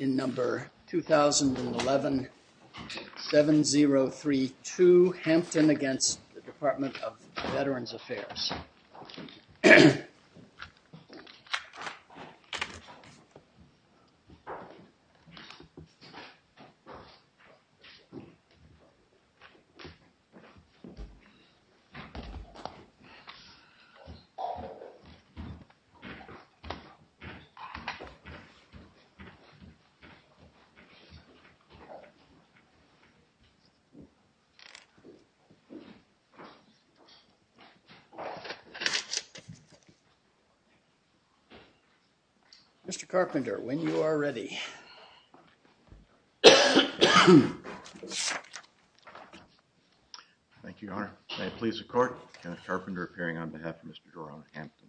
in number 2011-7032 Hampton against the Department of Veterans Affairs. Mr. Carpenter, when you are ready. Thank you, Your Honor. May it please the Court, Kenneth Carpenter appearing on behalf of Mr. Jerome Hampton.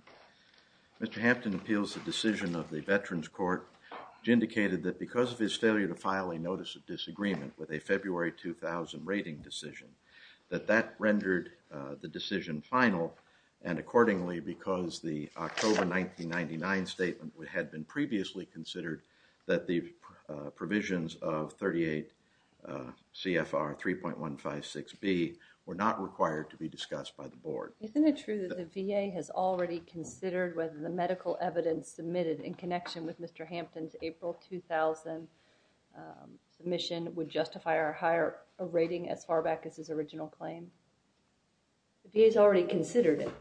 Mr. Hampton appeals the decision of the Veterans Court which indicated that because of his failure to file a notice of disagreement with a February 2000 rating decision, that that rendered the decision final and accordingly because the October 1999 statement had been previously considered that the provisions of 38 CFR 3.156B were not required to be discussed by the board. Isn't it true that the VA has already considered whether the medical evidence submitted in connection with Mr. Hampton's April 2000 submission would justify our higher rating as far back as his original claim? The VA has already considered it.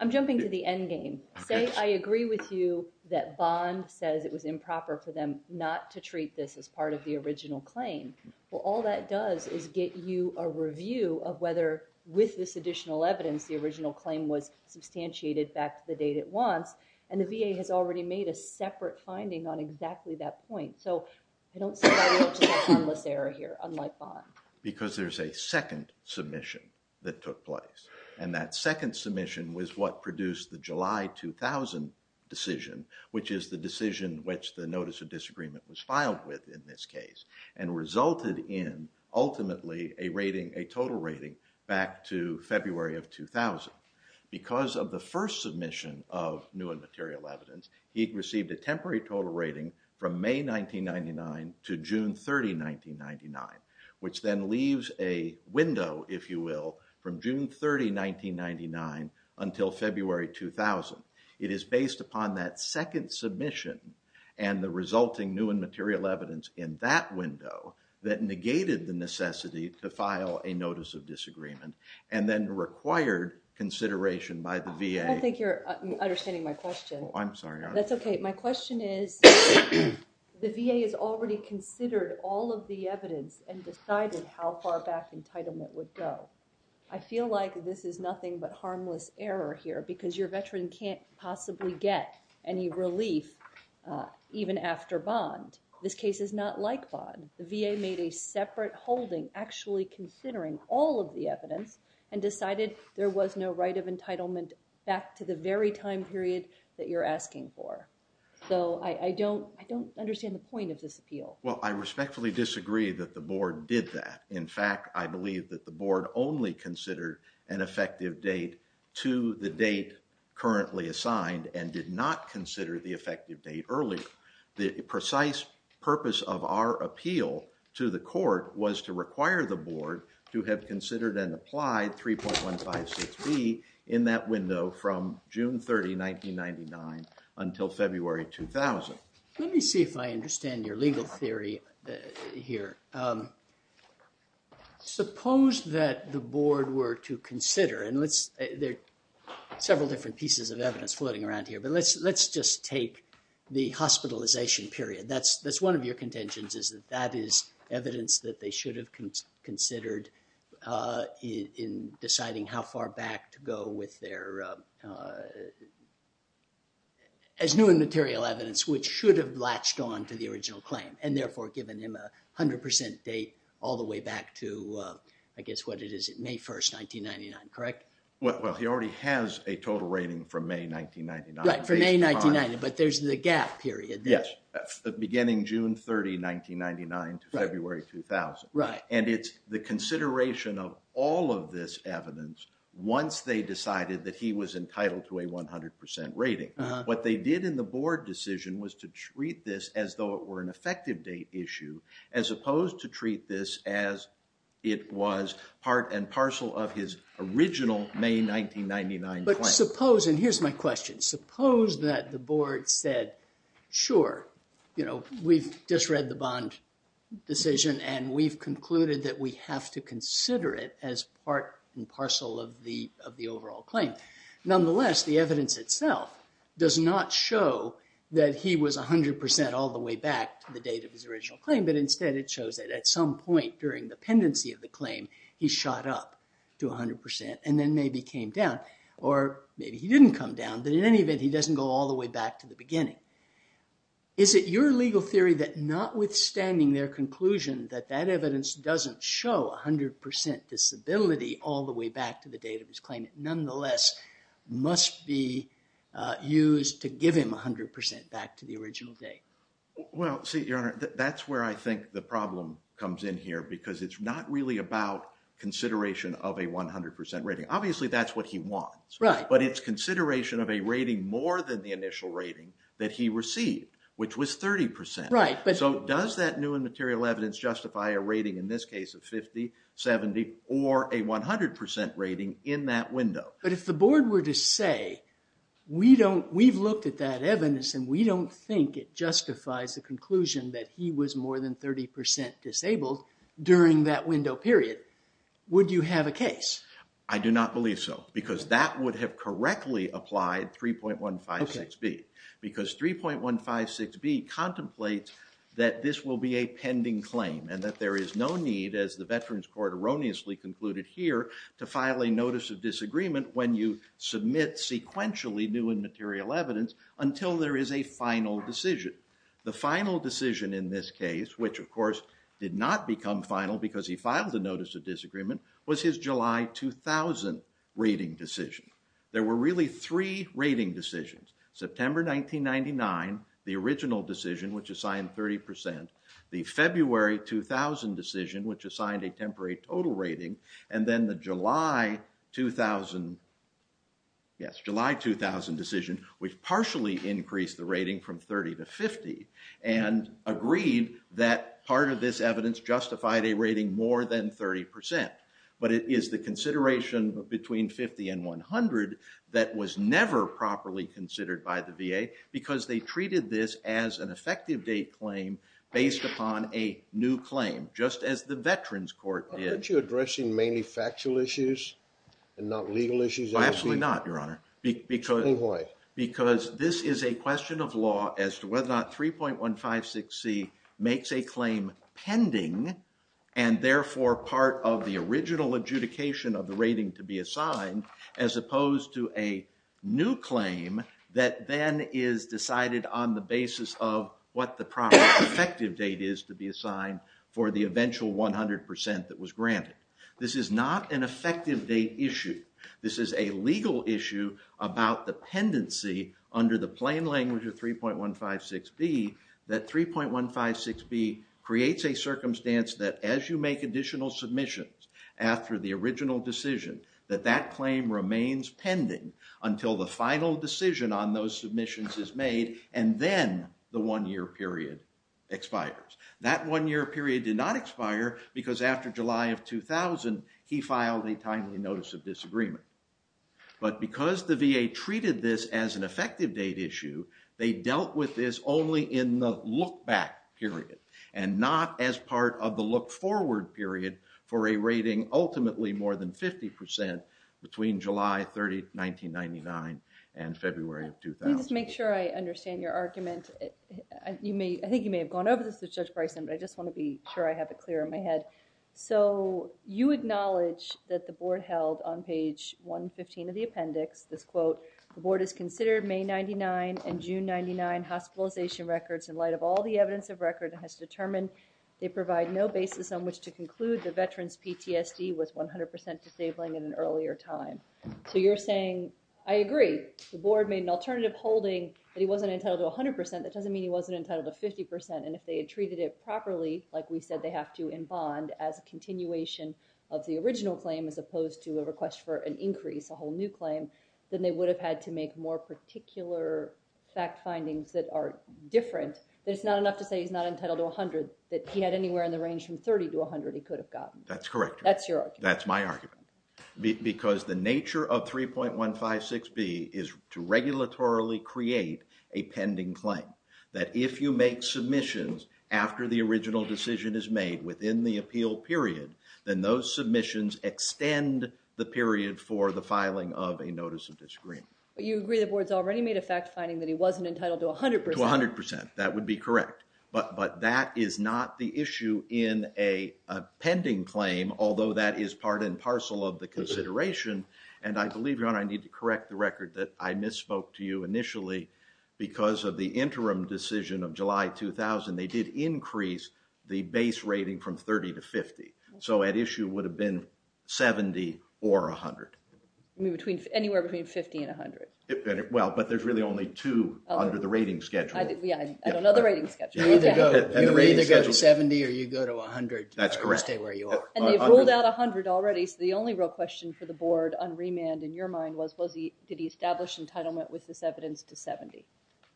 I'm jumping to the end game. Say I agree with you that Bond says it was improper for them not to treat this as part of the original claim. Well, all that does is get you a review of whether with this additional evidence the original claim was substantiated back to the date it wants and the VA has already made a separate finding on exactly that point. So, I don't see that much of a formless error here unlike Bond. Because there's a second submission that took place and that second submission was what produced the July 2000 decision which is the decision which the notice of disagreement was filed with in this case and resulted in ultimately a rating, a total rating back to February of 2000. Because of the first submission of new and material evidence, he received a temporary total rating from May 1999 to June 30, 1999 which then leaves a window, if you will, from June 30, 1999 until February 2000. It is based upon that second submission and the resulting new and material evidence in that window that negated the necessity to file a notice of disagreement and then required consideration by the VA. I don't think you're understanding my question. I'm sorry. That's okay. My question is the VA has already considered all of the evidence and decided how far back entitlement would go. I feel like this is nothing but harmless error here because your veteran can't possibly get any relief even after Bond. This case is not like Bond. The VA made a separate holding actually considering all of the evidence and decided there was no right of entitlement back to the very time period that you're asking for. So, I don't understand the point of this appeal. Well, I respectfully disagree that the Board did that. In fact, I believe that the Board only considered an effective date to the date currently assigned and did not consider the effective date earlier. The precise purpose of our appeal to the court was to require the Board to have considered and applied 3.156B in that window from June 30, 1999 until February 2000. Let me see if I understand your legal theory here. Suppose that the Board were to consider, and there are several different pieces of evidence floating around here, but let's just take the hospitalization period. That's one of your contentions is that that is evidence that they should have considered in deciding how far back to go with their, as new and material evidence, which should have latched on to the original claim and therefore given him a 100% date all the way back to, I guess, what it is, May 1, 1999, correct? Well, he already has a total rating from May 1999. Right, from May 1999, but there's the gap period. Yes, beginning June 30, 1999 to February 2000. Right. And it's the consideration of all of this evidence once they decided that he was entitled to a 100% rating. What they did in the Board decision was to treat this as though it were an effective date issue as opposed to treat this as it was part and parcel of his original May 1999 claim. But suppose, and here's my question, suppose that the Board said, sure, you know, we've just read the Bond decision and we've concluded that we have to consider it as part and parcel of the overall claim. Nonetheless, the evidence itself does not show that he was 100% all the way back to the date of his original claim, but instead it shows that at some point during the pendency of the claim, he shot up to 100% and then maybe came down. Or maybe he didn't come down, but in any event, he doesn't go all the way back to the beginning. Is it your legal theory that notwithstanding their conclusion that that evidence doesn't show 100% disability all the way back to the date of his claim, it nonetheless must be used to give him 100% back to the original date? Well, see, Your Honor, that's where I think the problem comes in here because it's not really about consideration of a 100% rating. Obviously, that's what he wants. But it's consideration of a rating more than the initial rating that he received, which was 30%. So does that new and material evidence justify a rating in this case of 50, 70, or a 100% rating in that window? But if the Board were to say, we've looked at that evidence and we don't think it justifies the conclusion that he was more than 30% disabled during that window period, would you have a case? I do not believe so because that would have correctly applied 3.156B. Because 3.156B contemplates that this will be a pending claim and that there is no need, as the Veterans Court erroneously concluded here, to file a notice of disagreement when you submit sequentially new and material evidence until there is a final decision. The final decision in this case, which, of course, did not become final because he filed the notice of disagreement, was his July 2000 rating decision. There were really three rating decisions, September 1999, the original decision, which assigned 30%, the February 2000 decision, which assigned a temporary total rating, and then the July 2000 decision, which partially increased the rating from 30 to 50 and agreed that part of this evidence justified a rating more than 30%. But it is the consideration between 50 and 100 that was never properly considered by the VA because they treated this as an effective date claim based upon a new claim, just as the Veterans Court did. Aren't you addressing mainly factual issues and not legal issues? Absolutely not, Your Honor. Explain why. Because this is a question of law as to whether or not 3.156C makes a claim pending and, therefore, part of the original adjudication of the rating to be assigned as opposed to a new claim that then is decided on the basis of what the proper effective date is to be assigned for the eventual 100% that was granted. This is not an effective date issue. This is a legal issue about the pendency under the plain language of 3.156B that 3.156B creates a circumstance that as you make additional submissions after the original decision, that that claim remains pending until the final decision on those submissions is made and then the one-year period expires. That one-year period did not expire because after July of 2000, he filed a timely notice of disagreement. But because the VA treated this as an effective date issue, they dealt with this only in the look-back period and not as part of the look-forward period for a rating ultimately more than 50% between July 30th, 1999 and February of 2000. Let me just make sure I understand your argument. I think you may have gone over this with Judge Bryson, but I just want to be sure I have it clear in my head. So, you acknowledge that the Board held on page 115 of the appendix, this quote, the Board has considered May 99 and June 99 hospitalization records in light of all the evidence of record and has determined they provide no basis on which to conclude the veteran's PTSD was 100% disabling at an earlier time. So, you're saying, I agree. The Board made an alternative holding that he wasn't entitled to 100%. That doesn't mean he wasn't entitled to 50%. And if they had treated it properly, like we said they have to in bond as a continuation of the original claim as opposed to a request for an increase, a whole new claim, then they would have had to make more particular fact findings that are different. That it's not enough to say he's not entitled to 100, that he had anywhere in the range from 30 to 100 he could have gotten. That's correct. That's your argument. That's my argument. Because the nature of 3.156B is to regulatorily create a pending claim. That if you make submissions after the original decision is made within the appeal period, then those submissions extend the period for the filing of a notice of disagreement. But you agree the Board's already made a fact finding that he wasn't entitled to 100%. To 100%. That would be correct. But that is not the issue in a pending claim, although that is part and parcel of the consideration. And I believe, Your Honor, I need to correct the record that I misspoke to you initially because of the interim decision of July 2000. They did increase the base rating from 30 to 50. So at issue would have been 70 or 100. Anywhere between 50 and 100. Well, but there's really only two under the rating schedule. I don't know the rating schedule. You either go to 70 or you go to 100. That's correct. To stay where you are. And they've ruled out 100 already, so the only real question for the Board on remand in your mind was did he establish entitlement with this evidence to 70?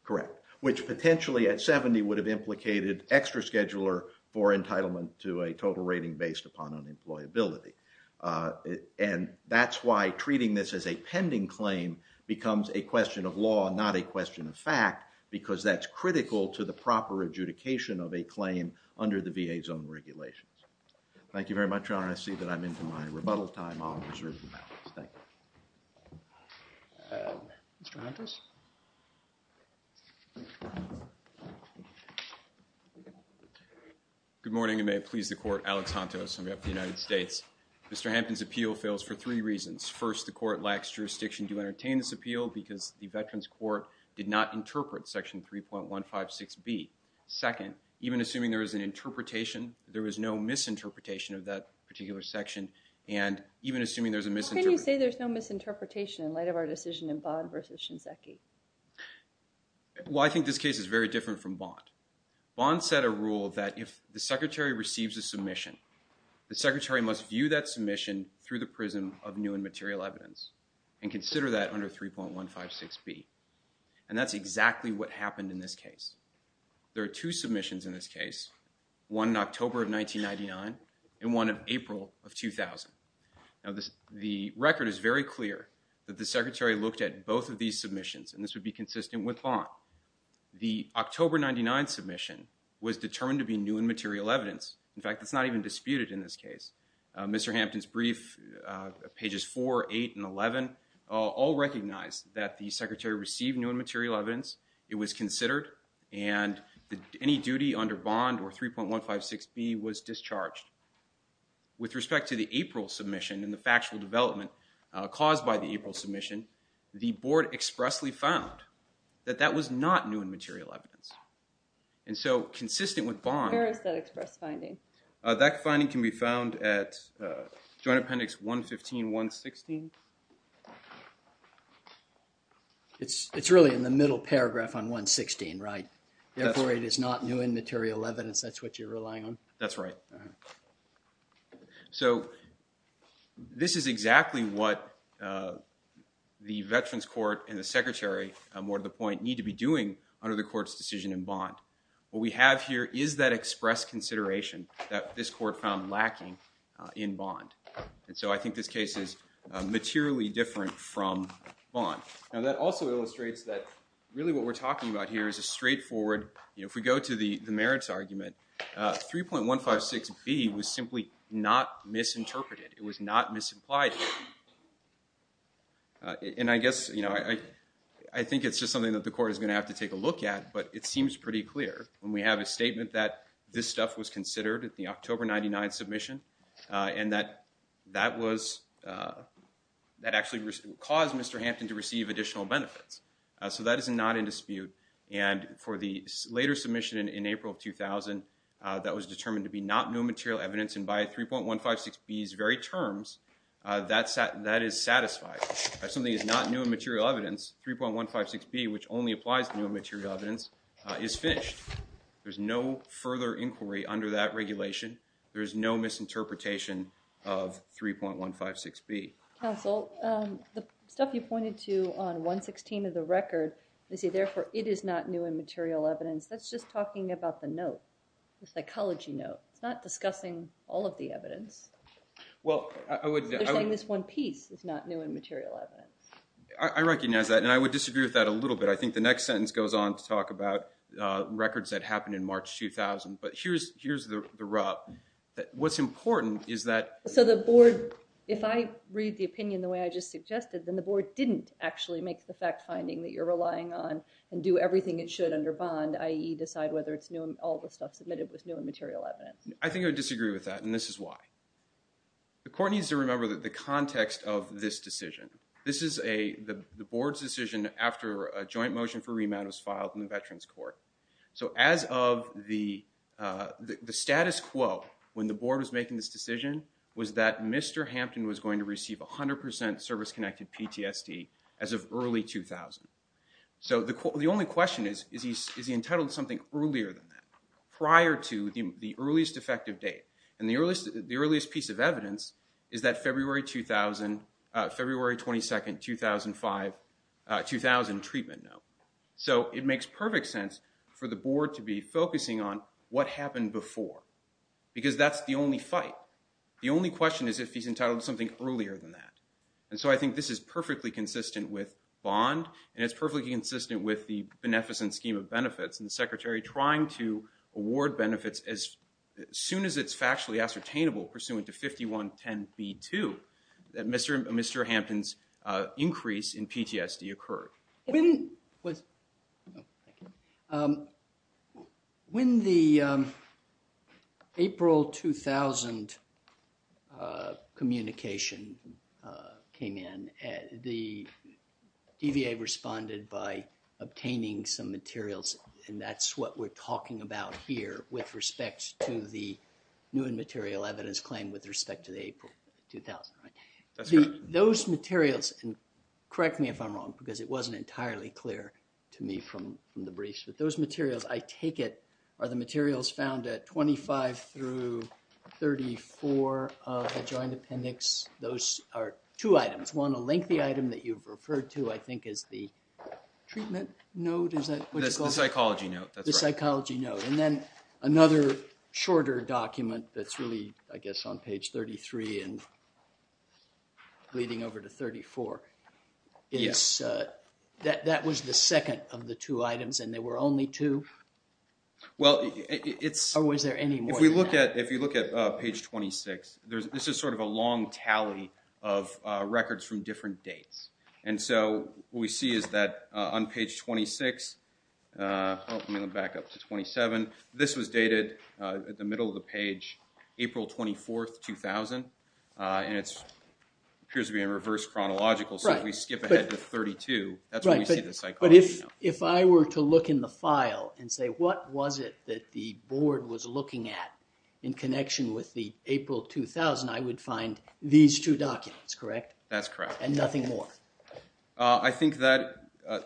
Correct. Which potentially at 70 would have implicated extra scheduler for entitlement to a total rating based upon unemployability. And that's why treating this as a pending claim becomes a question of law, not a question of fact, because that's critical to the proper adjudication of a claim under the VA's own regulations. Thank you very much, Your Honor. I see that I'm into my rebuttal time. I'll reserve the balance. Thank you. Mr. Hantos? Good morning, and may it please the Court. Alex Hantos. I'm with the United States. Mr. Hampton's appeal fails for three reasons. First, the Court lacks jurisdiction to entertain this appeal because the Veterans Court did not interpret Section 3.156B. Second, even assuming there is an interpretation, there was no misinterpretation of that particular section, and even assuming there's a misinterpretation. How can you say there's no misinterpretation in light of our decision in Bond versus Shinseki? Well, I think this case is very different from Bond. Bond set a rule that if the Secretary receives a submission, the Secretary must view that submission through the prism of new and material evidence and consider that under 3.156B. And that's exactly what happened in this case. There are two submissions in this case, one in October of 1999 and one in April of 2000. Now, the record is very clear that the Secretary looked at both of these submissions, and this would be consistent with Bond. The October 1999 submission was determined to be new and material evidence. In fact, it's not even disputed in this case. Mr. Hampton's brief, pages 4, 8, and 11, all recognize that the Secretary received new and material evidence. It was considered, and any duty under Bond or 3.156B was discharged. With respect to the April submission and the factual development caused by the April submission, the Board expressly found that that was not new and material evidence. And so consistent with Bond. Where is that express finding? That finding can be found at Joint Appendix 115, 116. It's really in the middle paragraph on 116, right? Therefore, it is not new and material evidence. That's what you're relying on? That's right. So this is exactly what the Veterans Court and the Secretary, more to the point, need to be doing under the court's decision in Bond. What we have here is that express consideration that this court found lacking in Bond. And so I think this case is materially different from Bond. Now, that also illustrates that really what we're talking about here is a straightforward, if we go to the merits argument, 3.156B was simply not misinterpreted. It was not misimplied. And I guess I think it's just something that the court is going to have to take a look at, but it seems pretty clear when we have a statement that this stuff was considered at the October 99 submission and that actually caused Mr. Hampton to receive additional benefits. So that is not in dispute. And for the later submission in April 2000, that was determined to be not new material evidence. And by 3.156B's very terms, that is satisfied. If something is not new and material evidence, 3.156B, which only applies to new and material evidence, is finished. There's no further inquiry under that regulation. There is no misinterpretation of 3.156B. Counsel, the stuff you pointed to on 116 of the record, they say, therefore, it is not new and material evidence. That's just talking about the note, the psychology note. It's not discussing all of the evidence. They're saying this one piece is not new and material evidence. I recognize that, and I would disagree with that a little bit. I think the next sentence goes on to talk about records that happened in March 2000. But here's the rub. What's important is that... So the board, if I read the opinion the way I just suggested, then the board didn't actually make the fact finding that you're relying on and do everything it should under bond, i.e., decide whether it's new and all the stuff submitted was new and material evidence. I think I would disagree with that, and this is why. The court needs to remember the context of this decision. This is the board's decision after a joint motion for remand was filed in the Veterans Court. So as of the status quo when the board was making this decision was that Mr. Hampton was going to receive 100% service-connected PTSD as of early 2000. So the only question is, is he entitled to something earlier than that, prior to the earliest effective date? And the earliest piece of evidence is that February 22, 2005, 2000 treatment note. So it makes perfect sense for the board to be focusing on what happened before because that's the only fight. The only question is if he's entitled to something earlier than that. And so I think this is perfectly consistent with bond, and it's perfectly consistent with the beneficence scheme of benefits and the Secretary trying to award benefits as soon as it's factually ascertainable, pursuant to 5110B2, that Mr. Hampton's increase in PTSD occurred. When the April 2000 communication came in, the DVA responded by obtaining some materials, and that's what we're talking about here with respect to the new material evidence claim with respect to the April 2000. Those materials, and correct me if I'm wrong because it wasn't entirely clear to me from the briefs, but those materials, I take it, are the materials found at 25 through 34 of the joint appendix. Those are two items, one, a lengthy item that you've referred to, I think, as the treatment note, is that what you call it? The psychology note, that's right. The psychology note. And then another shorter document that's really, I guess, on page 33 and leading over to 34. Yes. That was the second of the two items, and there were only two? Or was there any more than that? If you look at page 26, this is sort of a long tally of records from different dates. And so what we see is that on page 26, back up to 27, this was dated at the middle of the page April 24, 2000, and it appears to be in reverse chronological, so if we skip ahead to 32, that's when we see the psychology note. But if I were to look in the file and say, what was it that the board was looking at in connection with the April 2000, I would find these two documents, correct? That's correct. And nothing more? I think that,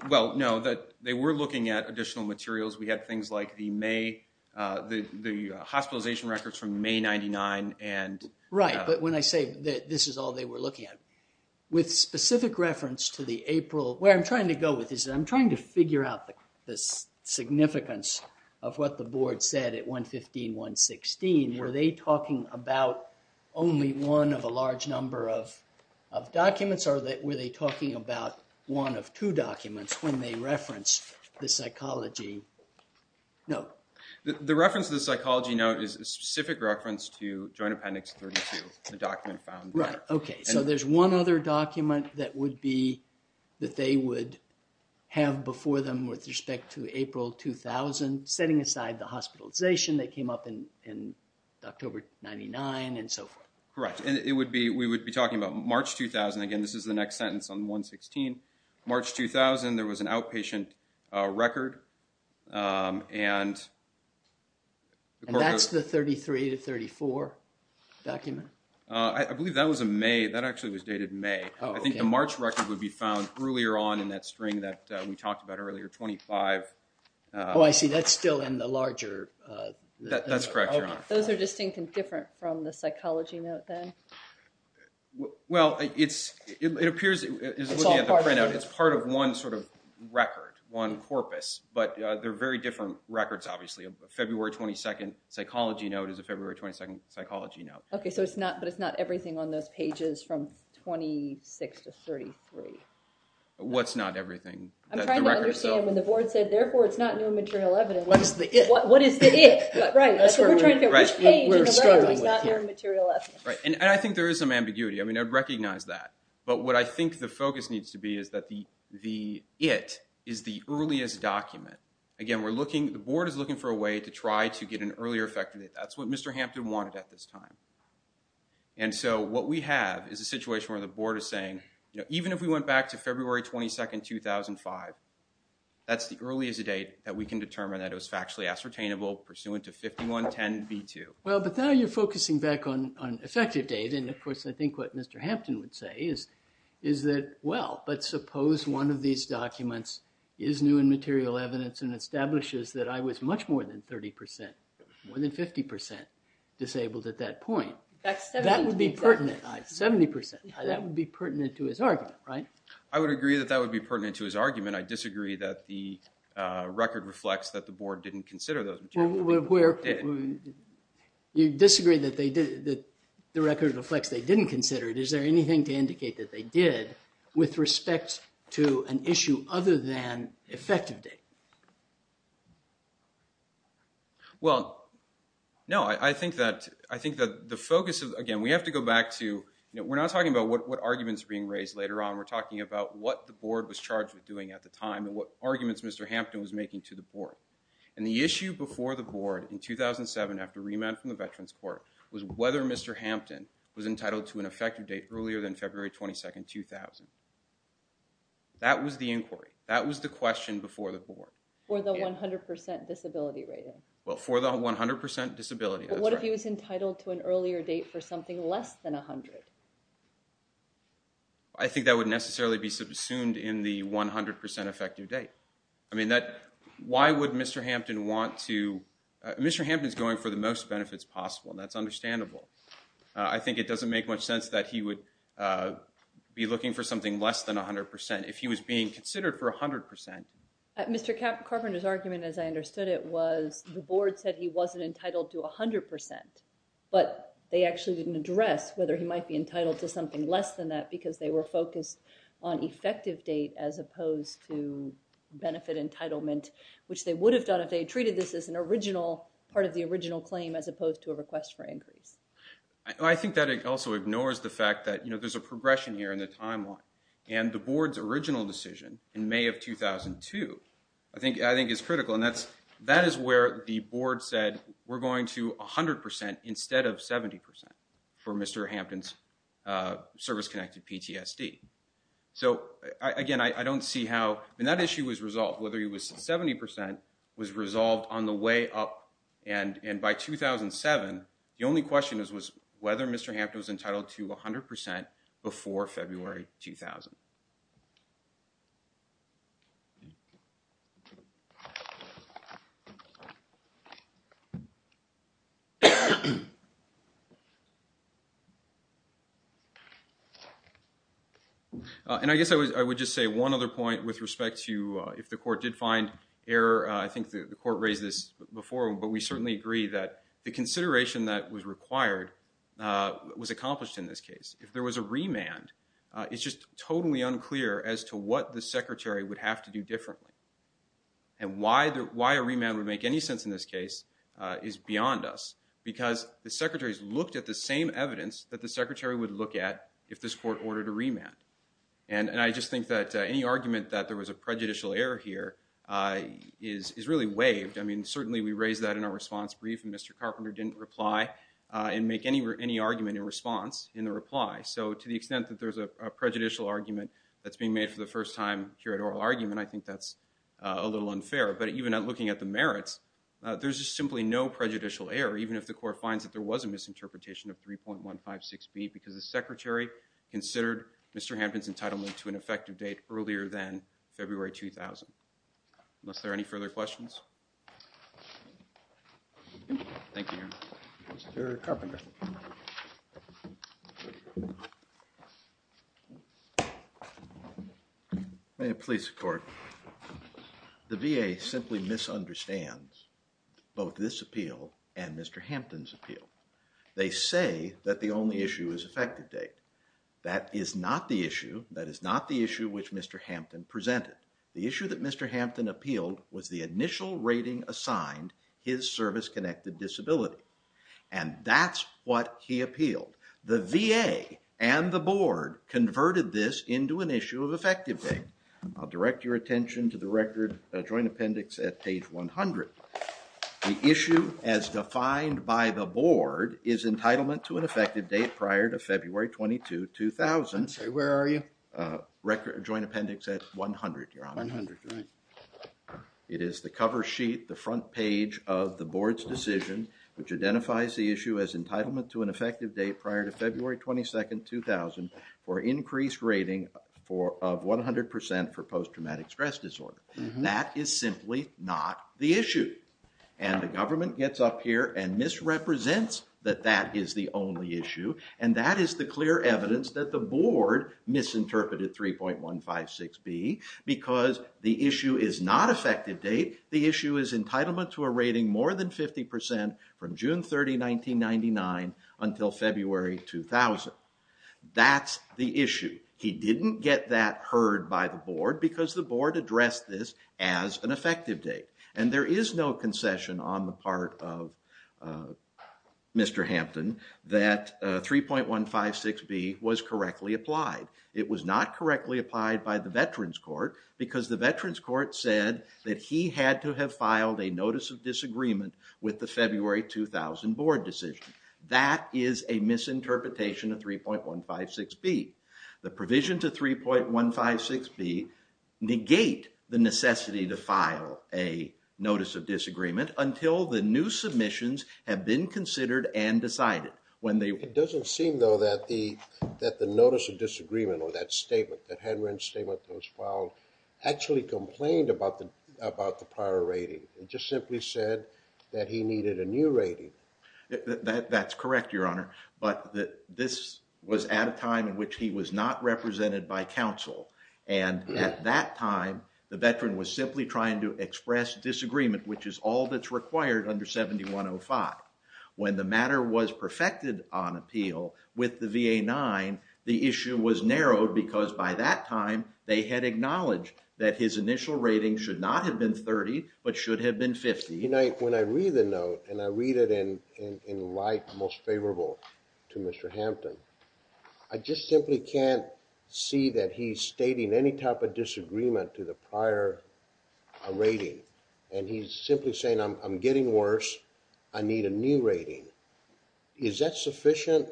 well, no, that they were looking at additional materials. We had things like the hospitalization records from May 99. Right, but when I say that this is all they were looking at, with specific reference to the April, where I'm trying to go with this, I'm trying to figure out the significance of what the board said at 115, 116. Were they talking about only one of a large number of documents, or were they talking about one of two documents when they referenced the psychology note? The reference to the psychology note is a specific reference to Joint Appendix 32, the document found there. Right, okay. So there's one other document that they would have before them with respect to April 2000, setting aside the hospitalization that came up in October 99 and so forth. Correct. And we would be talking about March 2000. Again, this is the next sentence on 116. March 2000, there was an outpatient record. And that's the 33 to 34 document? I believe that was a May. That actually was dated May. I think the March record would be found earlier on in that string that we talked about earlier, 25. Oh, I see. That's still in the larger. That's correct, Your Honor. Those are distinct and different from the psychology note then? Well, it appears it's looking at the printout. It's part of one sort of record, one corpus. But they're very different records, obviously. A February 22nd psychology note is a February 22nd psychology note. Okay, but it's not everything on those pages from 26 to 33. What's not everything? I'm trying to understand. When the board said, therefore, it's not new material evidence. What is the it? What is the it? Right. That's what we're trying to figure out. Which page in the record is not new material evidence? And I think there is some ambiguity. I mean, I'd recognize that. But what I think the focus needs to be is that the it is the earliest document. Again, the board is looking for a way to try to get an earlier effect. That's what Mr. Hampton wanted at this time. And so what we have is a situation where the board is saying, even if we went back to February 22nd, 2005, that's the earliest date that we can determine that it was factually ascertainable pursuant to 5110B2. Well, but now you're focusing back on effective date. And, of course, I think what Mr. Hampton would say is that, well, but suppose one of these documents is new and material evidence and disabled at that point. That would be pertinent. 70%. That would be pertinent to his argument, right? I would agree that that would be pertinent to his argument. I disagree that the record reflects that the board didn't consider those. You disagree that the record reflects they didn't consider it. Is there anything to indicate that they did with respect to an issue other than effective date? Well, no. I think that the focus of, again, we have to go back to, we're not talking about what arguments are being raised later on. We're talking about what the board was charged with doing at the time and what arguments Mr. Hampton was making to the board. And the issue before the board in 2007 after remand from the Veterans Court was whether Mr. Hampton was entitled to an effective date earlier than February 22nd, 2000. That was the inquiry. That was the question before the board. For the 100% disability rating. Well, for the 100% disability. What if he was entitled to an earlier date for something less than 100? I think that would necessarily be subsumed in the 100% effective date. I mean, why would Mr. Hampton want to, Mr. Hampton is going for the most benefits possible and that's understandable. I think it doesn't make much sense that he would be looking for something less than 100%. If he was being considered for 100%. Mr. Carpenter's argument, as I understood it, was the board said he wasn't entitled to 100%. But they actually didn't address whether he might be entitled to something less than that because they were focused on effective date as opposed to benefit entitlement, which they would have done if they treated this as an original part of the original claim, as opposed to a request for increase. I think that it also ignores the fact that, you know, there's a progression here in the timeline. And the board's original decision in May of 2002, I think, I think is critical. And that's, that is where the board said, we're going to a hundred percent instead of 70% for Mr. Hampton's service connected PTSD. So again, I don't see how, and that issue was resolved, whether he was 70% was resolved on the way up. And by 2007, the only question is was whether Mr. Hampton was entitled to a hundred percent before February, 2000. And I guess I was, I would just say one other point with respect to, if the court did find error, I think the court raised this before, but we certainly agree that the consideration that was required was accomplished in this case. If there was a remand, it's just totally unclear as to what the secretary would have to do differently and why the, why a remand would make any sense in this case is beyond us because the secretary has looked at the same evidence that the secretary would look at if this court ordered a remand. And I just think that any argument that there was a prejudicial error here is, is really waived. I mean, certainly we raised that in our response brief and Mr. Carpenter didn't reply and make any, any argument in response in the reply. So to the extent that there's a prejudicial argument that's being made for the first time here at oral argument, I think that's a little unfair, but even at looking at the merits, there's just simply no prejudicial error, even if the court finds that there was a misinterpretation of 3.156B because the secretary considered Mr. Hampton's entitlement to an effective date earlier than February, 2000, unless there are any further questions. Thank you. Mr. Carpenter. May it please the court. The VA simply misunderstands both this appeal and Mr. Hampton's appeal. They say that the only issue is effective date. That is not the issue. That is not the issue which Mr. Hampton presented. The issue that Mr. Hampton appealed was the initial rating assigned his service connected disability. And that's what he appealed. The VA and the board converted this into an issue of effective date. I'll direct your attention to the record joint appendix at page 100. The issue as defined by the board is entitlement to an effective date prior to February 22, 2000. Where are you? Record joint appendix at 100. It is the cover sheet, the front page of the board's decision, which identifies the issue as entitlement to an effective date prior to February 22nd, 2000, for increased rating for 100% for post-traumatic stress disorder. That is simply not the issue. And the government gets up here and misrepresents that that is the only issue. And that is the clear evidence that the board misinterpreted 3.156B because the issue is not effective date. The issue is entitlement to a rating more than 50% from June 30, 1999 until February 2000. That's the issue. He didn't get that heard by the board because the board addressed this as an effective date. And there is no concession on the part of Mr. B that 3.156B was correctly applied. It was not correctly applied by the veterans court because the veterans court said that he had to have filed a notice of disagreement with the February 2000 board decision. That is a misinterpretation of 3.156B. The provision to 3.156B negate the necessity to file a notice of disagreement until the new submissions have been considered and decided. It doesn't seem, though, that the notice of disagreement or that statement, that Hedren's statement that was filed, actually complained about the prior rating. It just simply said that he needed a new rating. That's correct, Your Honor. But this was at a time in which he was not represented by counsel. And at that time, the veteran was simply trying to express disagreement, which is all that's required under 7105. When the matter was perfected on appeal with the VA-9, the issue was narrowed because by that time they had acknowledged that his initial rating should not have been 30 but should have been 50. When I read the note and I read it in light most favorable to Mr. Hampton, I just simply can't see that he's stating any type of disagreement to the prior rating. And he's simply saying, I'm getting worse. I need a new rating. Is that sufficient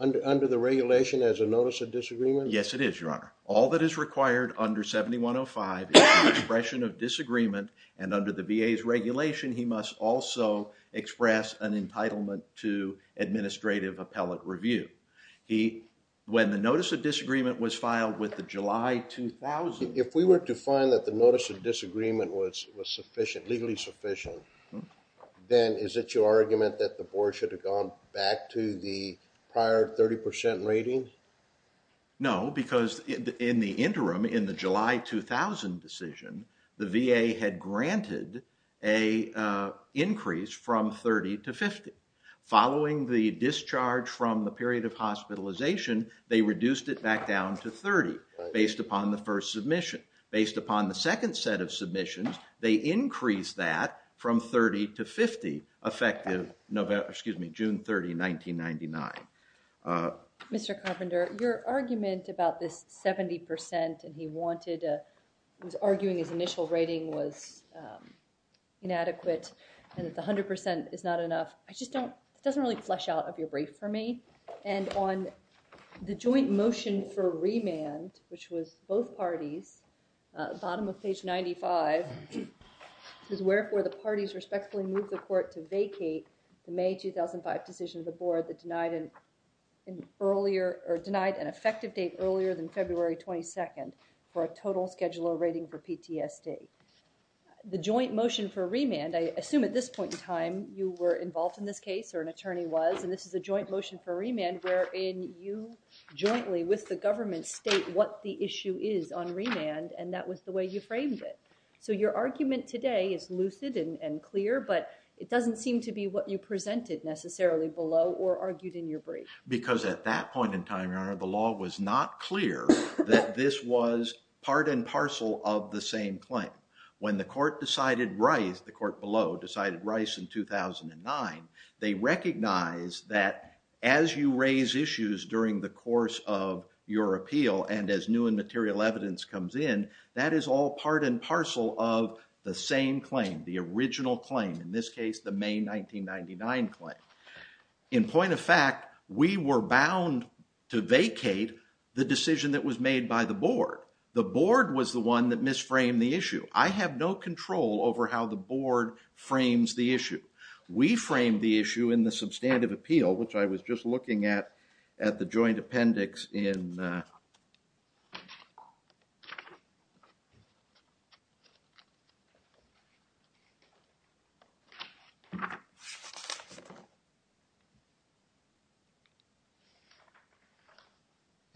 under the regulation as a notice of disagreement? Yes, it is, Your Honor. All that is required under 7105 is the expression of disagreement. And under the VA's regulation, he must also express an entitlement to administrative appellate review. He, when the notice of disagreement was filed with the July 2000. If we were to find that the notice of disagreement was sufficient, legally sufficient, then is it your argument that the board should have gone back to the prior 30% rating? No, because in the interim, in the July 2000 decision, the VA had granted a increase from 30 to 50. Following the discharge from the period of hospitalization, they reduced it back down to 30 based upon the first submission. Based upon the second set of submissions, they increased that from 30 to 50 effective November, excuse me, June 30, 1999. Mr. Carpenter, your argument about this 70% and he wanted, he was arguing his initial rating was inadequate and that the 100% is not enough. I just don't, it doesn't really flesh out of your brief for me. And on the joint motion for remand, which was both parties, uh, bottom of page 95 is where, where the parties respectfully move the court to vacate the May 2005 decision of the board that denied an earlier or denied an effective date earlier than February 22nd for a total schedule or rating for PTSD. The joint motion for remand, I assume at this point in time you were involved in this case or an attorney was, and this is a joint motion for remand. And where in you jointly with the government state what the issue is on remand and that was the way you framed it. So your argument today is lucid and clear, but it doesn't seem to be what you presented necessarily below or argued in your brief. Because at that point in time, Your Honor, the law was not clear that this was part and parcel of the same claim. When the court decided Rice, the court below decided Rice in 2009, they recognized that as you raise issues during the course of your appeal and as new and material evidence comes in, that is all part and parcel of the same claim, the original claim. In this case, the May 1999 claim. In point of fact, we were bound to vacate the decision that was made by the board. The board was the one that mis-framed the issue. I have no control over how the board frames the issue. We framed the issue in the substantive appeal, which I was just looking at at the joint appendix in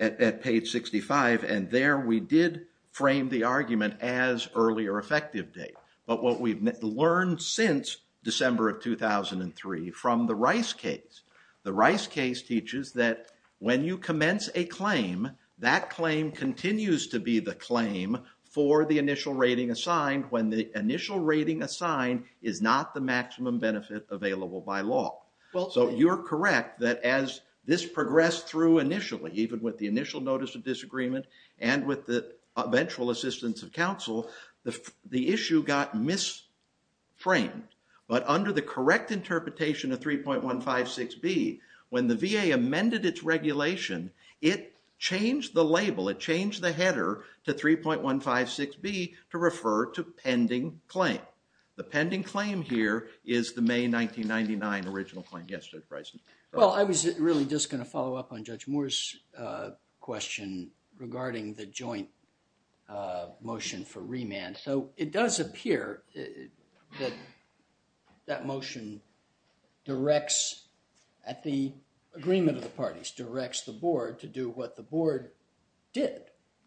at page 65. And there we did frame the argument as earlier effective date. But what we've learned since December of 2003 from the Rice case, the Rice case teaches that when you commence a claim, that claim continues to be the claim for the initial rating assigned when the initial rating assigned is not the maximum benefit available by law. So you're correct that as this progressed through initially, even with the initial notice of disagreement and with the eventual assistance of counsel, the issue got mis-framed. But under the correct interpretation of 3.156B, when the VA amended its regulation, it changed the label. It changed the header to 3.156B to refer to pending claim. The pending claim here is the May 1999 original claim. Yes, Judge Bryson. Well, I was really just going to follow up on Judge Moore's question regarding the joint motion for remand. So it does appear that that motion directs, at the agreement of the parties, directs the board to do what the board did.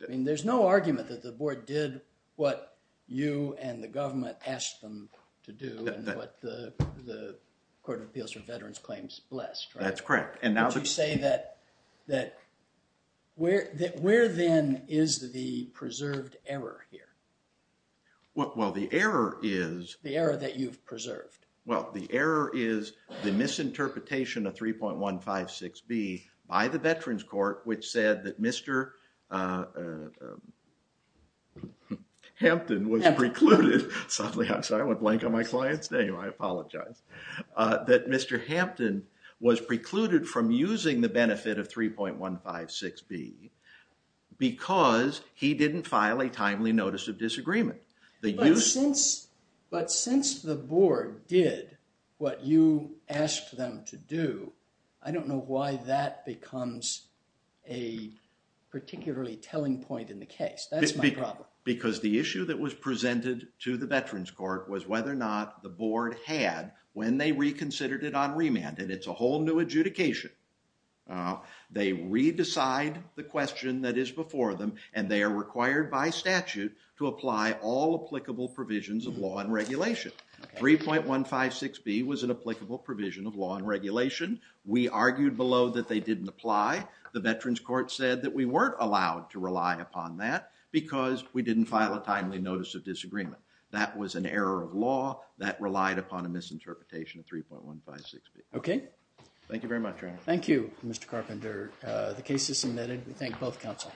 I mean, there's no argument that the board did what you and the government asked them to do and what the Court of Appeals for Veterans Claims blessed. That's correct. Would you say that where then is the preserved error here? Well, the error is... The error that you've preserved. Well, the error is the misinterpretation of 3.156B by the Veterans Court, which said that Mr. Hampton was precluded. Sorry, I went blank on my client's name. I apologize. That Mr. Hampton was precluded from using the benefit of 3.156B because he didn't file a timely notice of disagreement. But since the board did what you asked them to do, I don't know why that becomes a particularly telling point in the case. That's my problem. Because the issue that was presented to the Veterans Court was whether or not the board had, when they reconsidered it on remand, and it's a whole new adjudication, they re-decide the question that is before them and they are required by statute to apply all applicable provisions of law and regulation. 3.156B was an applicable provision of law and regulation. We argued below that they didn't apply. The Veterans Court said that we weren't allowed to rely upon that because we didn't file a timely notice of disagreement. That was an error of law that relied upon a misinterpretation of 3.156B. Okay. Thank you very much, Your Honor. Thank you, Mr. Carpenter. The case is submitted. We thank both counsel.